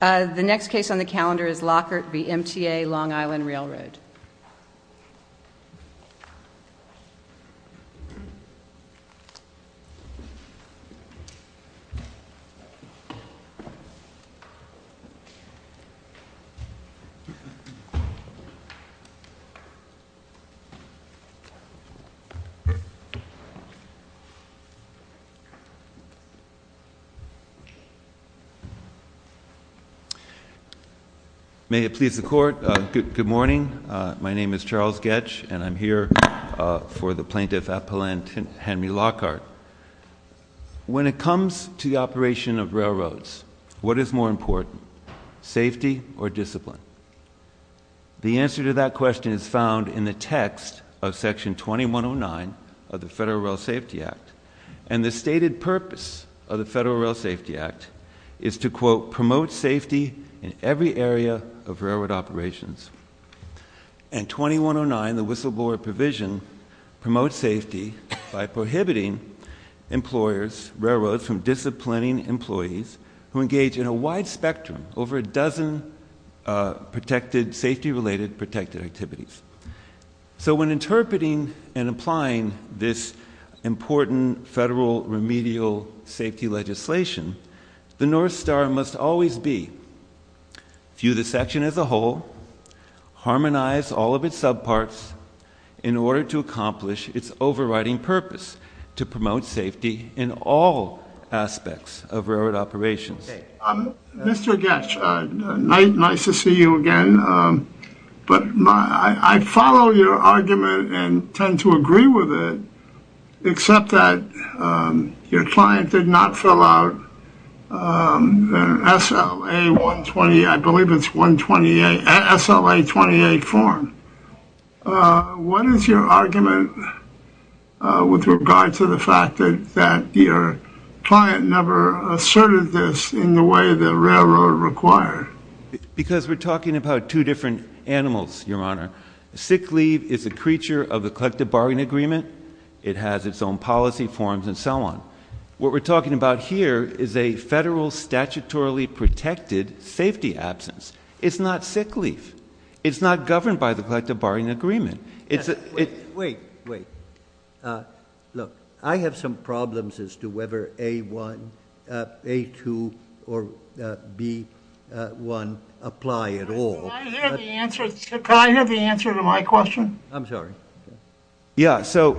The next case on the calendar is Lockhart v. MTA Long Island Railroad. May it please the Court, good morning. My name is Charles Goetsch and I'm here for the Plaintiff Appellant Henry Lockhart. When it comes to the operation of railroads, what is more important, safety or discipline? The answer to that question is found in the text of Section 2109 of the Federal Rail Safety Act. And the stated purpose of the Federal Rail Safety Act is to, quote, promote safety in every area of railroad operations. And 2109, the whistleblower provision, promotes safety by prohibiting employers, railroads, from disciplining employees who engage in a wide spectrum, over a dozen safety-related protected activities. So when interpreting and applying this important federal remedial safety legislation, the North Star must always be, view the section as a whole, harmonize all of its subparts, in order to accomplish its overriding purpose, to promote safety in all aspects of railroad operations. Mr. Goetsch, nice to see you again, but I follow your argument and tend to agree with it, except that your client did not fill out the SLA-128, I believe it's SLA-128 form. What is your argument with regard to the fact that your client never asserted this in the way the railroad required? Because we're talking about two different animals, Your Honor. Sick leave is a creature of the collective bargaining agreement. It has its own policy forms and so on. What we're talking about here is a federal statutorily protected safety absence. It's not sick leave. It's not governed by the collective bargaining agreement. Wait, wait. Look, I have some problems as to whether A-1, A-2, or B-1 apply at all. Can I hear the answer to my question? I'm sorry. Yeah, so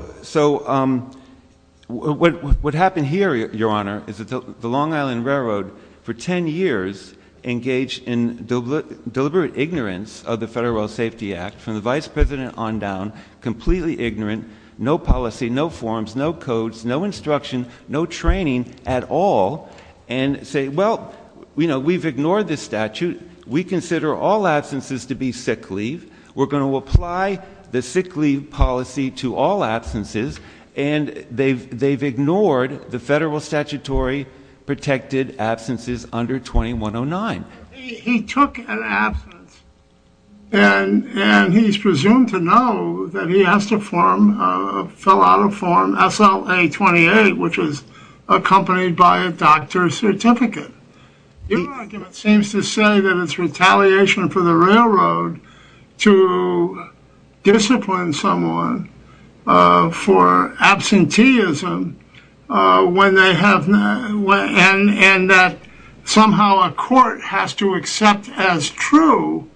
what happened here, Your Honor, is that the Long Island Railroad, for 10 years, engaged in deliberate ignorance of the Federal Rail Safety Act, from the vice president on down, completely ignorant, no policy, no forms, no codes, no instruction, no training at all, and say, well, we've ignored this statute. We consider all absences to be sick leave. We're going to apply the sick leave policy to all absences, and they've ignored the federal statutory protected absences under 2109. He took an absence, and he's presumed to know that he has to fill out a form, SLA-28, which is accompanied by a doctor's certificate. Your argument seems to say that it's retaliation for the railroad to discipline someone for absenteeism and that somehow a court has to accept as true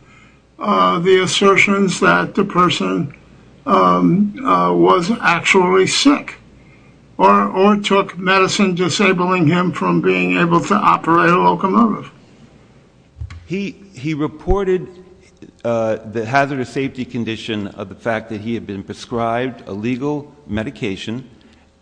the assertions that the person was actually sick or took medicine disabling him from being able to operate a locomotive. He reported the hazardous safety condition of the fact that he had been prescribed a legal medication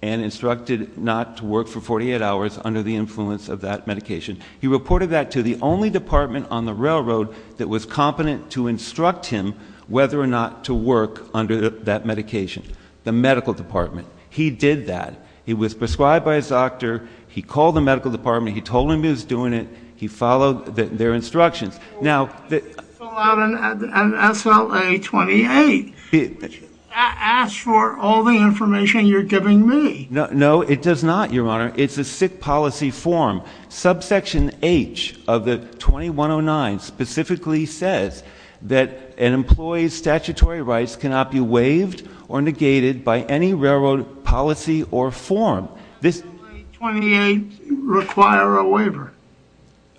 and instructed not to work for 48 hours under the influence of that medication. He reported that to the only department on the railroad that was competent to instruct him whether or not to work under that medication, the medical department. He did that. He was prescribed by his doctor. He called the medical department. He told him he was doing it. He followed their instructions. Now, the — Fill out an SLA-28. That asks for all the information you're giving me. No, it does not, Your Honor. It's a sick policy form. Subsection H of the 2109 specifically says that an employee's statutory rights cannot be waived or negated by any railroad policy or form. Does SLA-28 require a waiver?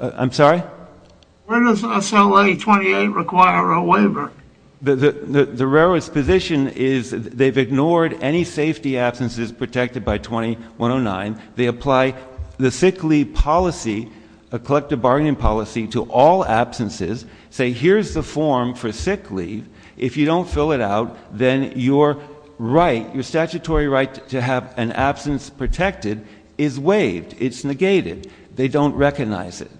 I'm sorry? Where does SLA-28 require a waiver? The railroad's position is they've ignored any safety absences protected by 2109. They apply the sick leave policy, a collective bargaining policy, to all absences, say here's the form for sick leave. If you don't fill it out, then your right, your statutory right to have an absence protected is waived. It's negated. They don't recognize it.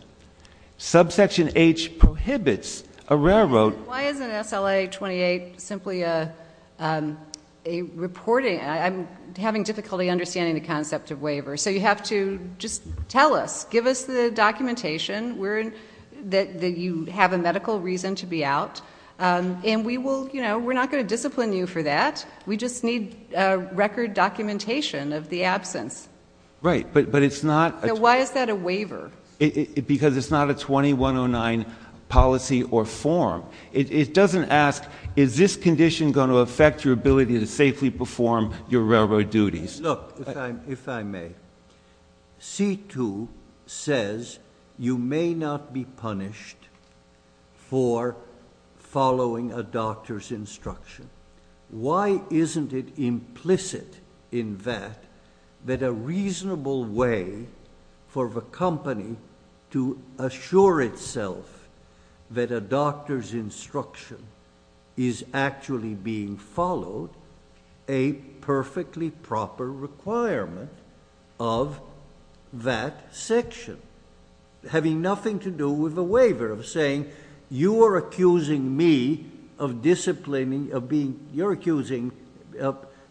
Subsection H prohibits a railroad. Why isn't SLA-28 simply a reporting? I'm having difficulty understanding the concept of waiver. So you have to just tell us. Give us the documentation that you have a medical reason to be out. And we will, you know, we're not going to discipline you for that. We just need record documentation of the absence. Right, but it's not. So why is that a waiver? Because it's not a 2109 policy or form. It doesn't ask is this condition going to affect your ability to safely perform your railroad duties. Look, if I may, C-2 says you may not be punished for following a doctor's instruction. Why isn't it implicit in that that a reasonable way for the company to assure itself that a doctor's instruction is actually being followed, a perfectly proper requirement of that section, having nothing to do with the waiver of saying you are accusing me of disciplining, you're accusing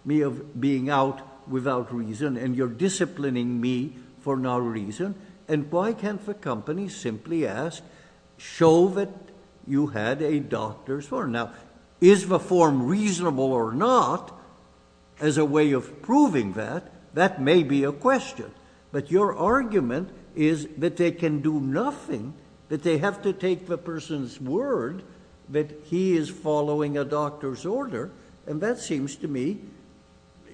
me of being out without reason and you're disciplining me for no reason. And why can't the company simply ask, show that you had a doctor's order. Now, is the form reasonable or not as a way of proving that? That may be a question. But your argument is that they can do nothing, that they have to take the person's word that he is following a doctor's order, and that seems to me,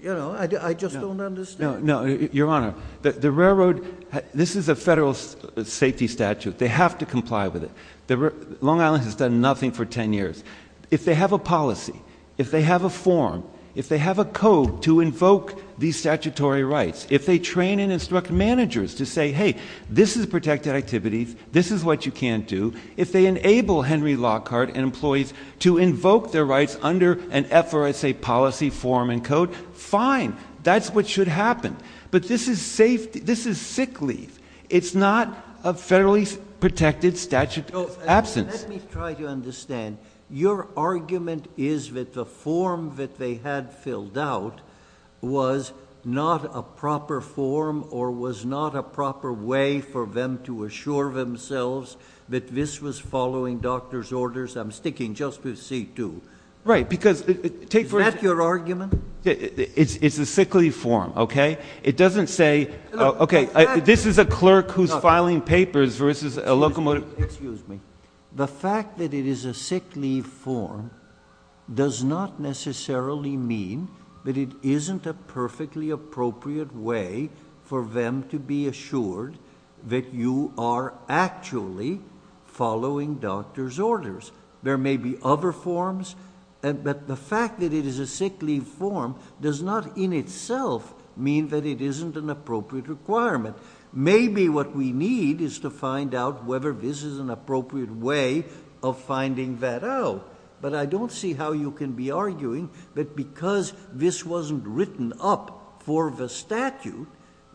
you know, I just don't understand. No, Your Honor, the railroad, this is a federal safety statute. They have to comply with it. Long Island has done nothing for 10 years. If they have a policy, if they have a form, if they have a code to invoke these statutory rights, if they train and instruct managers to say, hey, this is protected activities, this is what you can't do, if they enable Henry Lockhart and employees to invoke their rights under an FRSA policy, form, and code, fine. That's what should happen. But this is sick leave. It's not a federally protected statute of absence. Let me try to understand. Your argument is that the form that they had filled out was not a proper form or was not a proper way for them to assure themselves that this was following doctor's orders? I'm sticking just with C-2. Right, because take for instance. Is that your argument? It's a sick leave form, okay? It doesn't say, okay, this is a clerk who's filing papers versus a locomotive. Excuse me. The fact that it is a sick leave form does not necessarily mean that it isn't a perfectly appropriate way for them to be assured that you are actually following doctor's orders. There may be other forms, but the fact that it is a sick leave form does not in itself mean that it isn't an appropriate requirement. Maybe what we need is to find out whether this is an appropriate way of finding that out. But I don't see how you can be arguing that because this wasn't written up for the statute,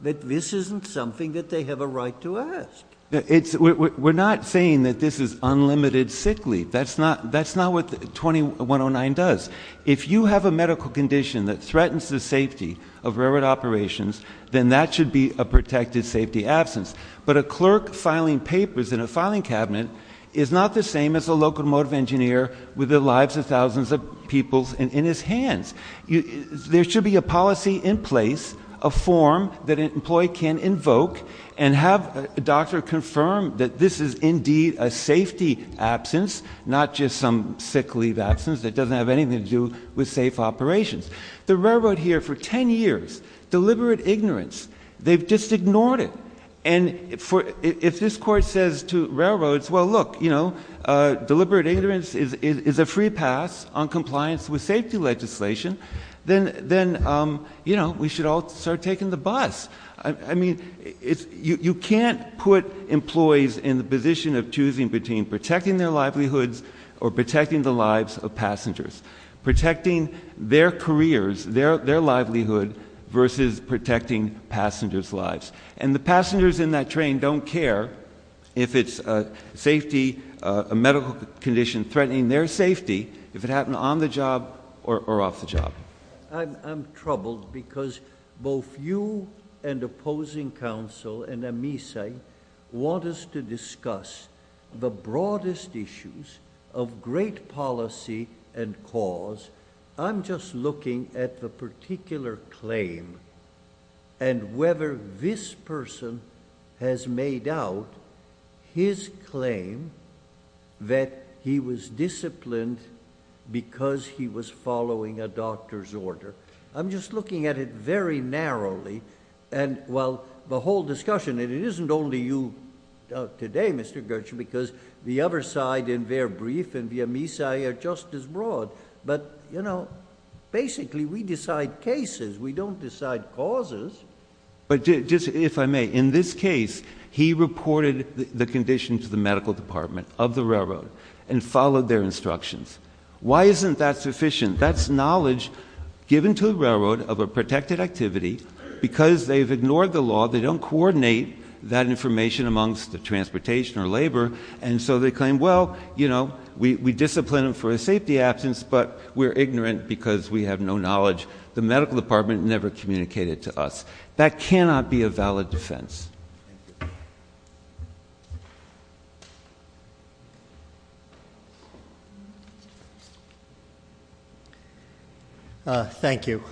that this isn't something that they have a right to ask. We're not saying that this is unlimited sick leave. That's not what 2109 does. If you have a medical condition that threatens the safety of railroad operations, then that should be a protected safety absence. But a clerk filing papers in a filing cabinet is not the same as a locomotive engineer with the lives of thousands of people in his hands. There should be a policy in place, a form that an employee can invoke and have a doctor confirm that this is indeed a safety absence, not just some sick leave absence that doesn't have anything to do with safe operations. The railroad here for 10 years, deliberate ignorance, they've just ignored it. And if this court says to railroads, well look, deliberate ignorance is a free pass on compliance with safety legislation, then we should all start taking the bus. I mean, you can't put employees in the position of choosing between protecting their livelihoods or protecting the lives of passengers, protecting their careers, their livelihood versus protecting passengers' lives. And the passengers in that train don't care if it's safety, a medical condition threatening their safety, if it happened on the job or off the job. I'm troubled because both you and opposing counsel and Amisai want us to discuss the broadest issues of great policy and cause. I'm just looking at the particular claim and whether this person has made out his claim that he was disciplined because he was following a doctor's order. I'm just looking at it very narrowly. And, well, the whole discussion, and it isn't only you today, Mr. Gertsch, because the other side and their brief and the Amisai are just as broad. But, you know, basically we decide cases. We don't decide causes. But just if I may, in this case, he reported the condition to the medical department of the railroad and followed their instructions. Why isn't that sufficient? That's knowledge given to the railroad of a protected activity because they've ignored the law. They don't coordinate that information amongst the transportation or labor. And so they claim, well, you know, we discipline him for a safety absence, but we're ignorant because we have no knowledge. The medical department never communicated to us. That cannot be a valid defense. Thank you.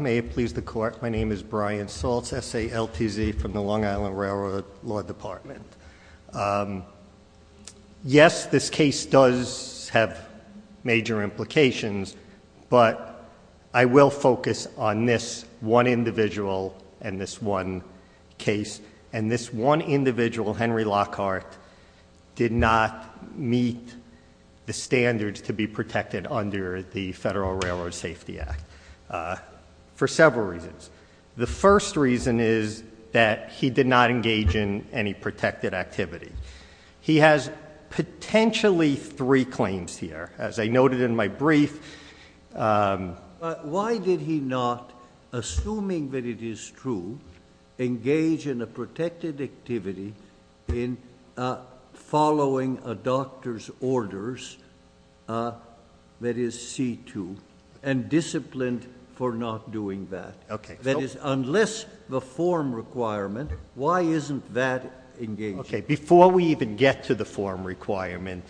May it please the court. My name is Brian Saltz, SALTZ from the Long Island Railroad Law Department. Yes, this case does have major implications. But I will focus on this one individual and this one case. And this one individual, Henry Lockhart, did not meet the standards to be protected under the Federal Railroad Safety Act for several reasons. The first reason is that he did not engage in any protected activity. He has potentially three claims here. As I noted in my brief. Why did he not, assuming that it is true, engage in a protected activity in following a doctor's orders, that is C2, and disciplined for not doing that? That is, unless the form requirement, why isn't that engaged? Okay. Before we even get to the form requirement,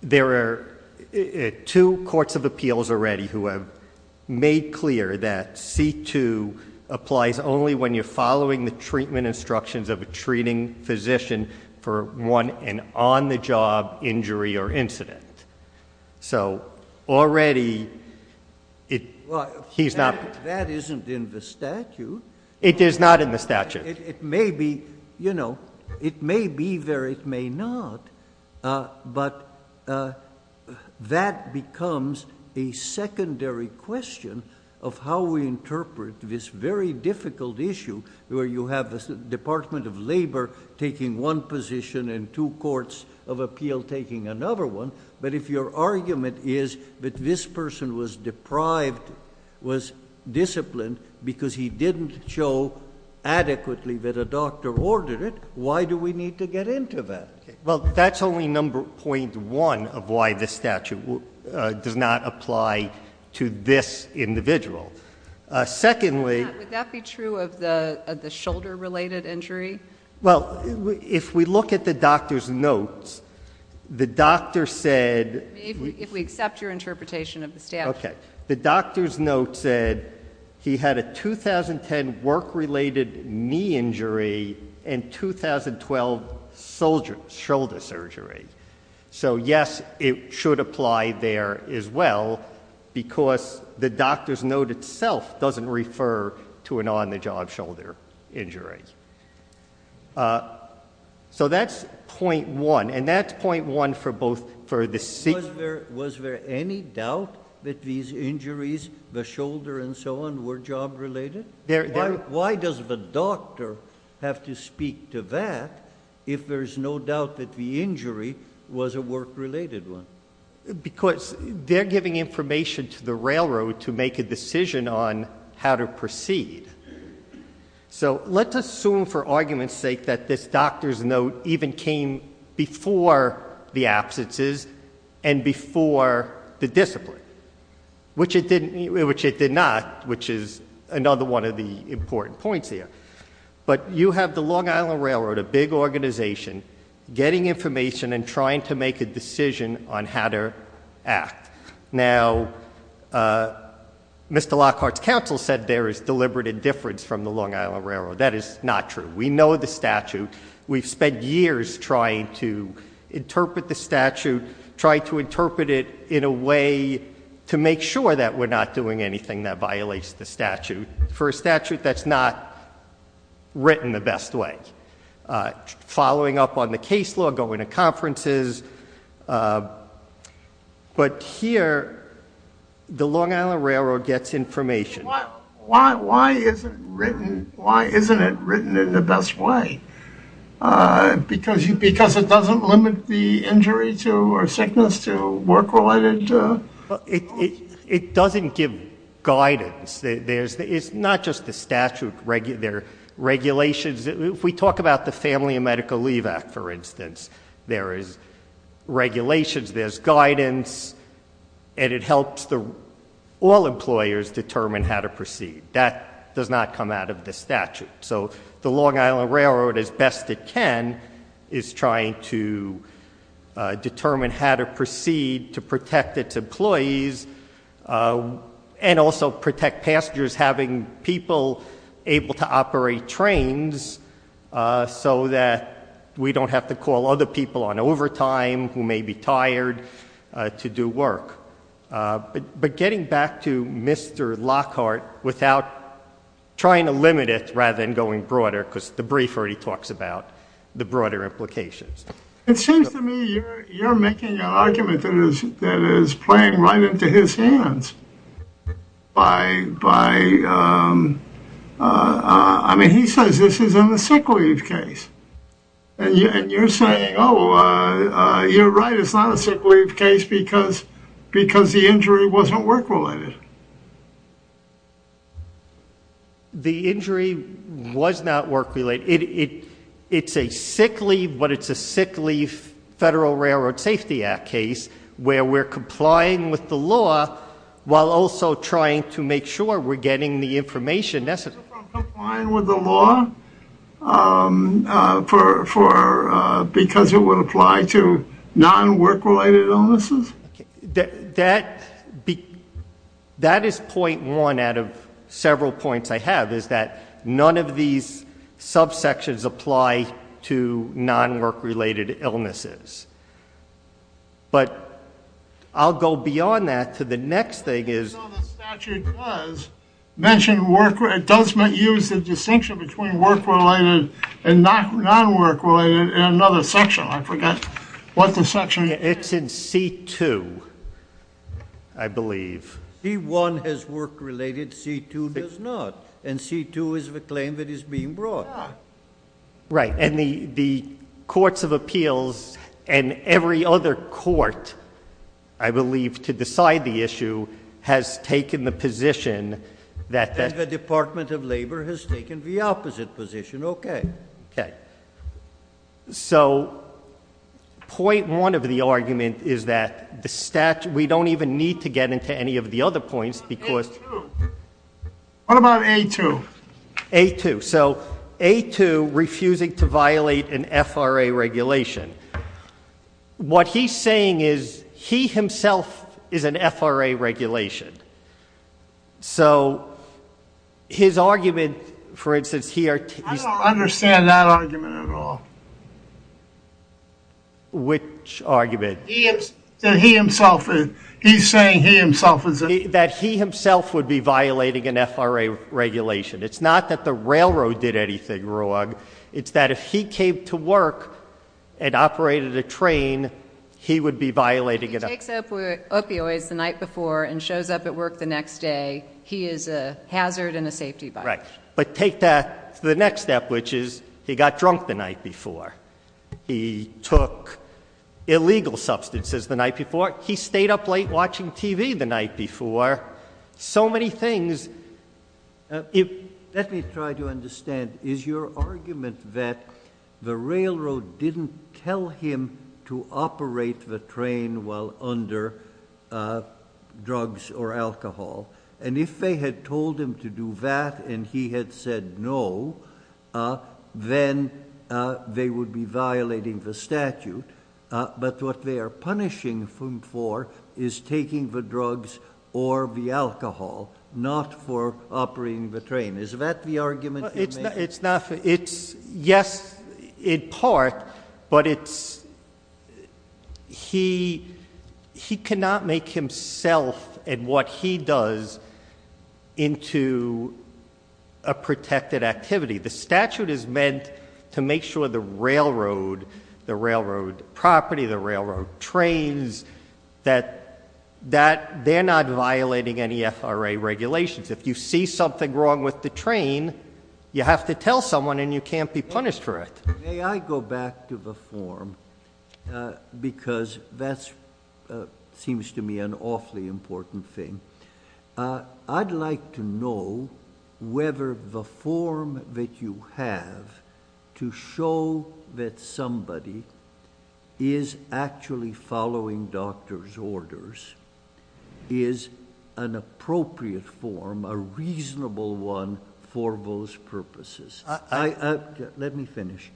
there are two courts of appeals already who have made clear that C2 applies only when you're following the treatment instructions of a treating physician for one, an on-the-job injury or incident. So already, he's not. That isn't in the statute. It is not in the statute. It may be, you know, it may be there, it may not. But that becomes a secondary question of how we interpret this very difficult issue where you have the Department of Labor taking one position and two courts of appeal taking another one. But if your argument is that this person was deprived, was disciplined because he didn't show adequately that a doctor ordered it, why do we need to get into that? Okay. Well, that's only number .1 of why this statute does not apply to this individual. Secondly... Would that be true of the shoulder-related injury? Well, if we look at the doctor's notes, the doctor said... If we accept your interpretation of the statute. Okay. The doctor's note said he had a 2010 work-related knee injury and 2012 shoulder surgery. So, yes, it should apply there as well because the doctor's note itself doesn't refer to an on-the-job shoulder injury. So that's .1. And that's .1 for both... Was there any doubt that these injuries, the shoulder and so on, were job-related? Why does the doctor have to speak to that if there's no doubt that the injury was a work-related one? Because they're giving information to the railroad to make a decision on how to proceed. So let's assume for argument's sake that this doctor's note even came before the absences and before the discipline, which it did not, which is another one of the important points here. But you have the Long Island Railroad, a big organization, getting information and trying to make a decision on how to act. Now, Mr. Lockhart's counsel said there is deliberate indifference from the Long Island Railroad. That is not true. We know the statute. We've spent years trying to interpret the statute, trying to interpret it in a way to make sure that we're not doing anything that violates the statute. For a statute that's not written the best way, following up on the case law, going to conferences. But here, the Long Island Railroad gets information. Why isn't it written in the best way? Because it doesn't limit the injury or sickness to work-related? It doesn't give guidance. It's not just the statute. There are regulations. If we talk about the Family and Medical Leave Act, for instance, there is regulations, there's guidance, and it helps all employers determine how to proceed. That does not come out of the statute. So the Long Island Railroad, as best it can, is trying to determine how to proceed to protect its employees and also protect passengers, having people able to operate trains so that we don't have to call other people on overtime who may be tired to do work. But getting back to Mr. Lockhart, without trying to limit it rather than going broader, because the brief already talks about the broader implications. It seems to me you're making an argument that is playing right into his hands. I mean, he says this is in the sick leave case. And you're saying, oh, you're right, it's not a sick leave case because the injury wasn't work-related. The injury was not work-related. It's a sick leave, but it's a sick leave Federal Railroad Safety Act case, where we're complying with the law while also trying to make sure we're getting the information necessary. You're not complying with the law because it would apply to non-work-related illnesses? That is point one out of several points I have, is that none of these subsections apply to non-work-related illnesses. But I'll go beyond that to the next thing is... The statute does mention work-related. It does use the distinction between work-related and non-work-related in another section. I forget what the section is. It's in C2, I believe. C1 has work-related. C2 does not. And C2 is the claim that is being brought. Right. And the Courts of Appeals and every other court, I believe, to decide the issue has taken the position that... And the Department of Labor has taken the opposite position. Okay. Okay. So point one of the argument is that the statute... We don't even need to get into any of the other points because... What about A2? A2. So A2, refusing to violate an FRA regulation. What he's saying is he himself is an FRA regulation. So his argument, for instance, he... I don't understand that argument at all. Which argument? That he himself is... He's saying he himself is... That he himself would be violating an FRA regulation. It's not that the railroad did anything wrong. It's that if he came to work and operated a train, he would be violating it. If he takes up opioids the night before and shows up at work the next day, he is a hazard and a safety violation. Right. But take that to the next step, which is he got drunk the night before. He took illegal substances the night before. He stayed up late watching TV the night before. So many things. Let me try to understand. Is your argument that the railroad didn't tell him to operate the train while under drugs or alcohol? And if they had told him to do that and he had said no, then they would be violating the statute. But what they are punishing him for is taking the drugs or the alcohol, not for operating the train. Is that the argument you make? It's not. And what he does into a protected activity. The statute is meant to make sure the railroad, the railroad property, the railroad trains, that they're not violating any FRA regulations. If you see something wrong with the train, you have to tell someone and you can't be punished for it. May I go back to the form because that seems to me an awfully important thing. I'd like to know whether the form that you have to show that somebody is actually following doctor's orders is an appropriate form, a reasonable one, for those purposes. Let me finish.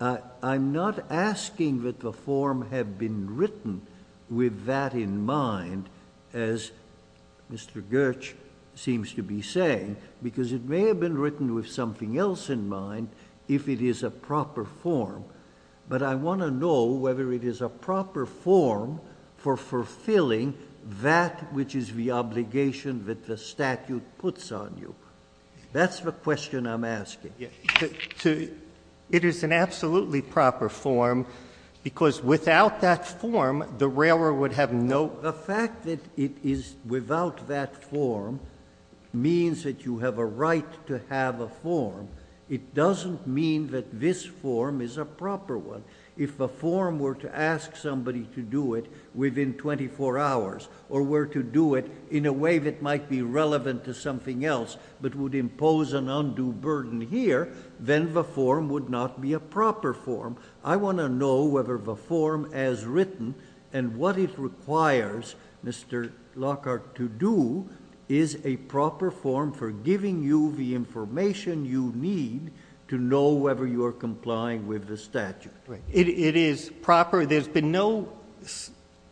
I'm not asking that the form have been written with that in mind, as Mr. Gertsch seems to be saying, because it may have been written with something else in mind if it is a proper form. But I want to know whether it is a proper form for fulfilling that which is the obligation that the statute puts on you. That's the question I'm asking. It is an absolutely proper form because without that form, the railroad would have no... The fact that it is without that form means that you have a right to have a form. It doesn't mean that this form is a proper one. If the form were to ask somebody to do it within 24 hours or were to do it in a way that might be relevant to something else but would impose an undue burden here, then the form would not be a proper form. I want to know whether the form as written and what it requires Mr. Lockhart to do is a proper form for giving you the information you need to know whether you are complying with the statute. It is proper. There's been no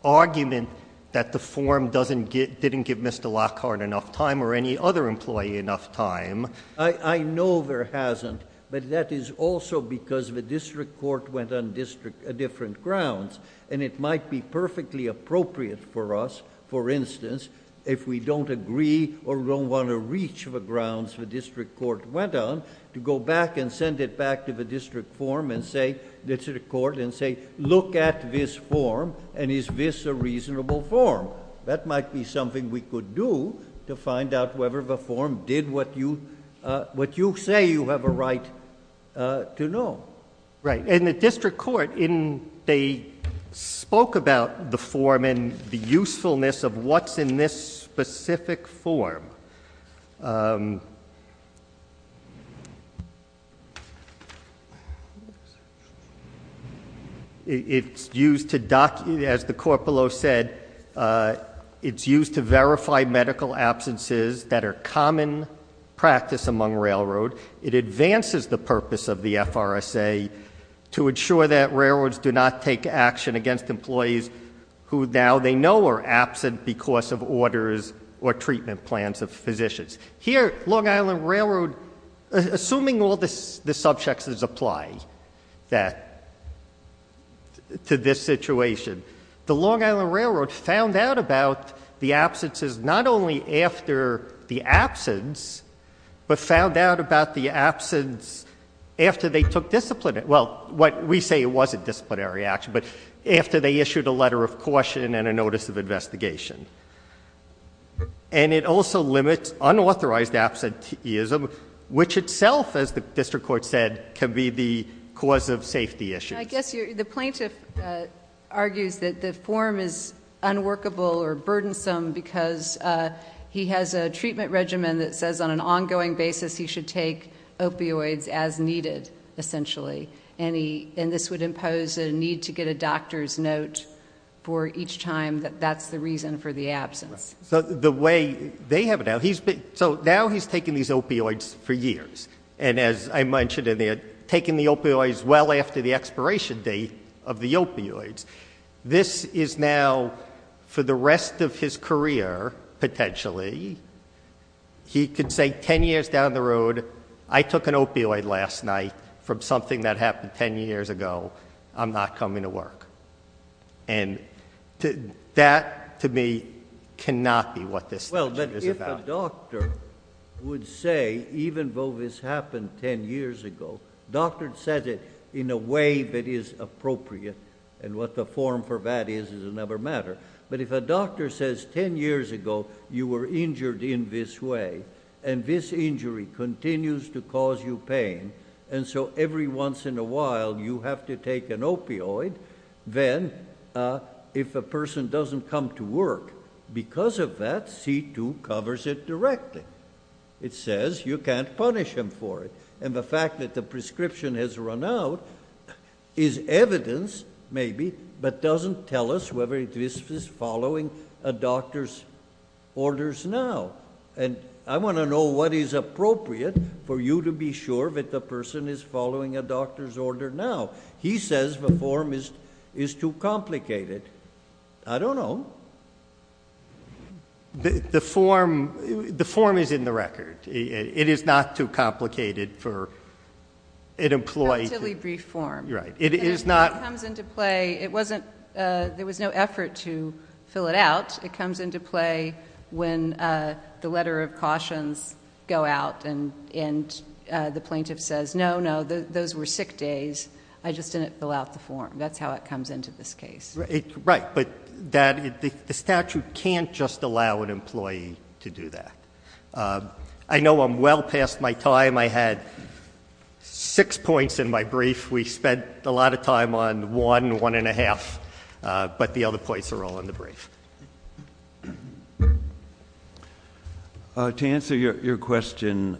argument that the form didn't give Mr. Lockhart enough time or any other employee enough time. I know there hasn't, but that is also because the district court went on different grounds. It might be perfectly appropriate for us, for instance, if we don't agree or don't want to reach the grounds the district court went on, to go back and send it back to the district court and say, look at this form and is this a reasonable form? That might be something we could do to find out whether the form did what you say you have a right to know. In the district court, they spoke about the form and the usefulness of what's in this specific form. As the court below said, it's used to verify medical absences that are common practice among railroad. It advances the purpose of the FRSA to ensure that railroads do not take action against employees who now they know are absent because of orders or treatment plans of physicians. Here, Long Island Railroad, assuming all the subjects that apply to this situation, the Long Island Railroad found out about the absences not only after the absence, but found out about the absence after they took disciplinary action. Well, we say it wasn't disciplinary action, but after they issued a letter of caution and a notice of investigation. It also limits unauthorized absenteeism, which itself, as the district court said, can be the cause of safety issues. I guess the plaintiff argues that the form is unworkable or burdensome because he has a treatment regimen that says on an ongoing basis he should take opioids as needed, essentially. And this would impose a need to get a doctor's note for each time that that's the reason for the absence. So now he's taken these opioids for years. And as I mentioned in there, taking the opioids well after the expiration date of the opioids. This is now, for the rest of his career, potentially, he could say ten years down the road, I took an opioid last night from something that happened ten years ago. I'm not coming to work. And that, to me, cannot be what this statute is about. If a doctor would say, even though this happened ten years ago, doctor said it in a way that is appropriate, and what the form for that is, it'll never matter. But if a doctor says ten years ago you were injured in this way, and this injury continues to cause you pain, and so every once in a while you have to take an opioid, then if a person doesn't come to work, because of that, C-2 covers it directly. It says you can't punish him for it. And the fact that the prescription has run out is evidence, maybe, but doesn't tell us whether it is following a doctor's orders now. And I want to know what is appropriate for you to be sure that the person is following a doctor's order now. He says the form is too complicated. I don't know. The form is in the record. It is not too complicated for an employee to- A relatively brief form. Right. It is not- It comes into play, it wasn't, there was no effort to fill it out. It comes into play when the letter of cautions go out and the plaintiff says, no, no, those were sick days. I just didn't fill out the form. That's how it comes into this case. Right, but the statute can't just allow an employee to do that. I know I'm well past my time. I had six points in my brief. We spent a lot of time on one and one and a half, but the other points are all in the brief. To answer your question,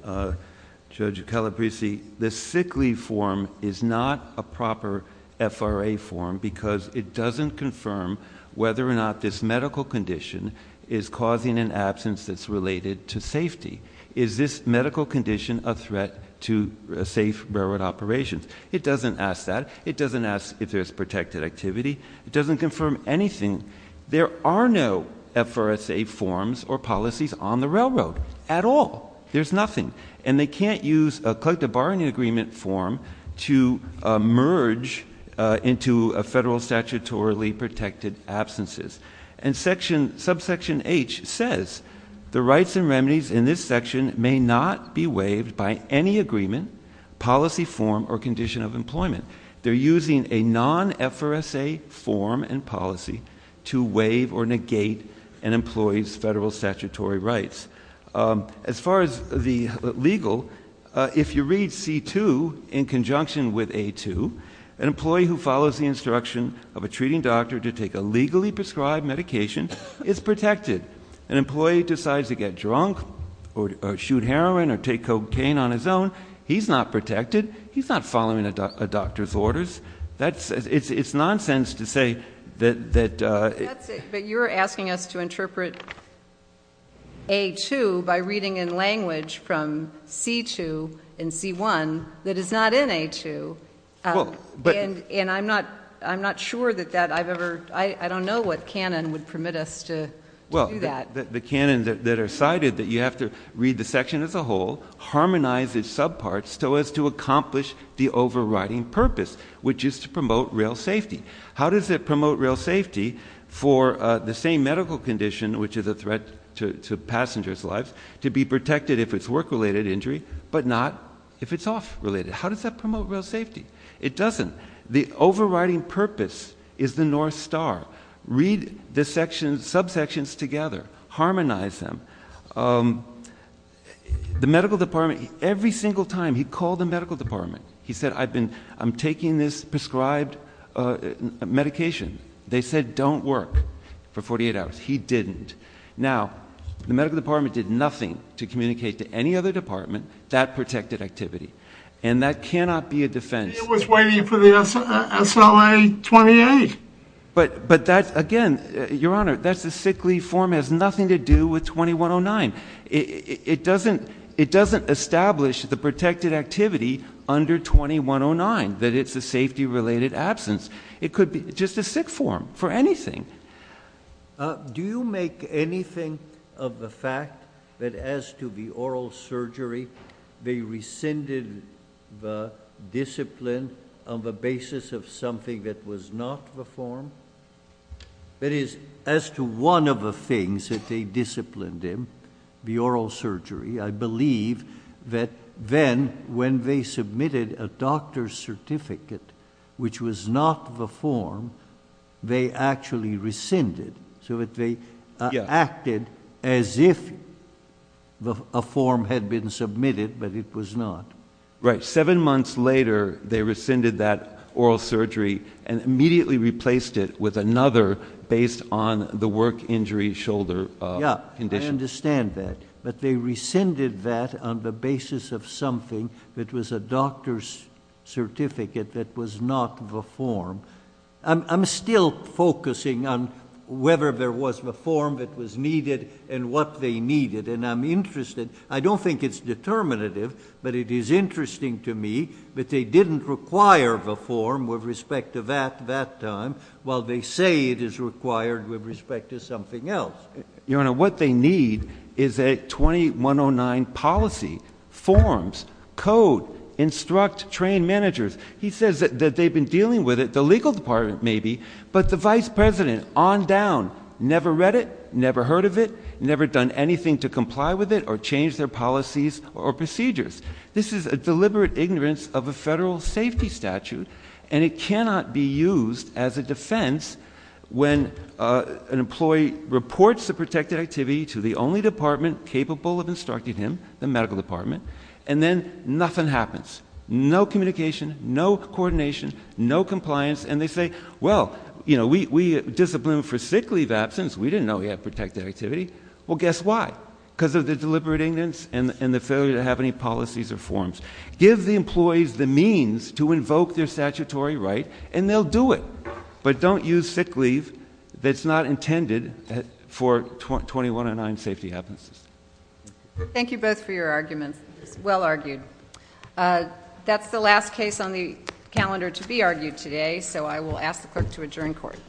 Judge Calabresi, this sick leave form is not a proper FRA form because it doesn't confirm whether or not this medical condition is causing an absence that's related to safety. Is this medical condition a threat to safe railroad operations? It doesn't ask that. It doesn't ask if there's protected activity. It doesn't confirm anything. There are no FRSA forms or policies on the railroad at all. There's nothing. And they can't use a collective bargaining agreement form to merge into a federal statutorily protected absences. And subsection H says, the rights and remedies in this section may not be waived by any agreement, policy form, or condition of employment. They're using a non-FRSA form and policy to waive or negate an employee's federal statutory rights. As far as the legal, if you read C-2 in conjunction with A-2, an employee who follows the instruction of a treating doctor to take a legally prescribed medication is protected. An employee decides to get drunk or shoot heroin or take cocaine on his own, he's not protected. He's not following a doctor's orders. It's nonsense to say that- But you're asking us to interpret A-2 by reading in language from C-2 and C-1 that is not in A-2. And I'm not sure that I've ever, I don't know what canon would permit us to do that. Well, the canon that are cited that you have to read the section as a whole, harmonize its subparts, so as to accomplish the overriding purpose, which is to promote rail safety. How does it promote rail safety for the same medical condition, which is a threat to passengers' lives, to be protected if it's work-related injury, but not if it's off-related? How does that promote rail safety? It doesn't. The overriding purpose is the North Star. Read the subsections together. Harmonize them. The medical department, every single time, he called the medical department. He said, I'm taking this prescribed medication. They said, don't work for 48 hours. He didn't. Now, the medical department did nothing to communicate to any other department that protected activity. And that cannot be a defense. He was waiting for the SLA-28. But that, again, Your Honor, that's a sick leave form. It has nothing to do with 2109. It doesn't establish the protected activity under 2109, that it's a safety-related absence. It could be just a sick form for anything. Do you make anything of the fact that as to the oral surgery, they rescinded the discipline on the basis of something that was not the form? That is, as to one of the things that they disciplined him, the oral surgery, I believe that then, when they submitted a doctor's certificate which was not the form, they actually rescinded so that they acted as if a form had been submitted but it was not. Right. Seven months later, they rescinded that oral surgery and immediately replaced it with another based on the work injury shoulder condition. Yeah, I understand that. But they rescinded that on the basis of something that was a doctor's certificate that was not the form. I'm still focusing on whether there was a form that was needed and what they needed, and I'm interested. I don't think it's determinative, but it is interesting to me that they didn't require the form with respect to that time while they say it is required with respect to something else. Your Honor, what they need is a 2109 policy, forms, code, instruct trained managers. He says that they've been dealing with it, the legal department maybe, but the vice president on down never read it, never heard of it, never done anything to comply with it or change their policies or procedures. This is a deliberate ignorance of a federal safety statute, and it cannot be used as a defense when an employee reports a protected activity to the only department capable of instructing him, the medical department, and then nothing happens, no communication, no coordination, no compliance, and they say, well, you know, we disciplined for sick leave absence. We didn't know we had protected activity. Well, guess why? Because of the deliberate ignorance and the failure to have any policies or forms. Give the employees the means to invoke their statutory right, and they'll do it, but don't use sick leave that's not intended for 2109 safety absence. Thank you both for your arguments. Well argued. That's the last case on the calendar to be argued today, so I will ask the clerk to adjourn court.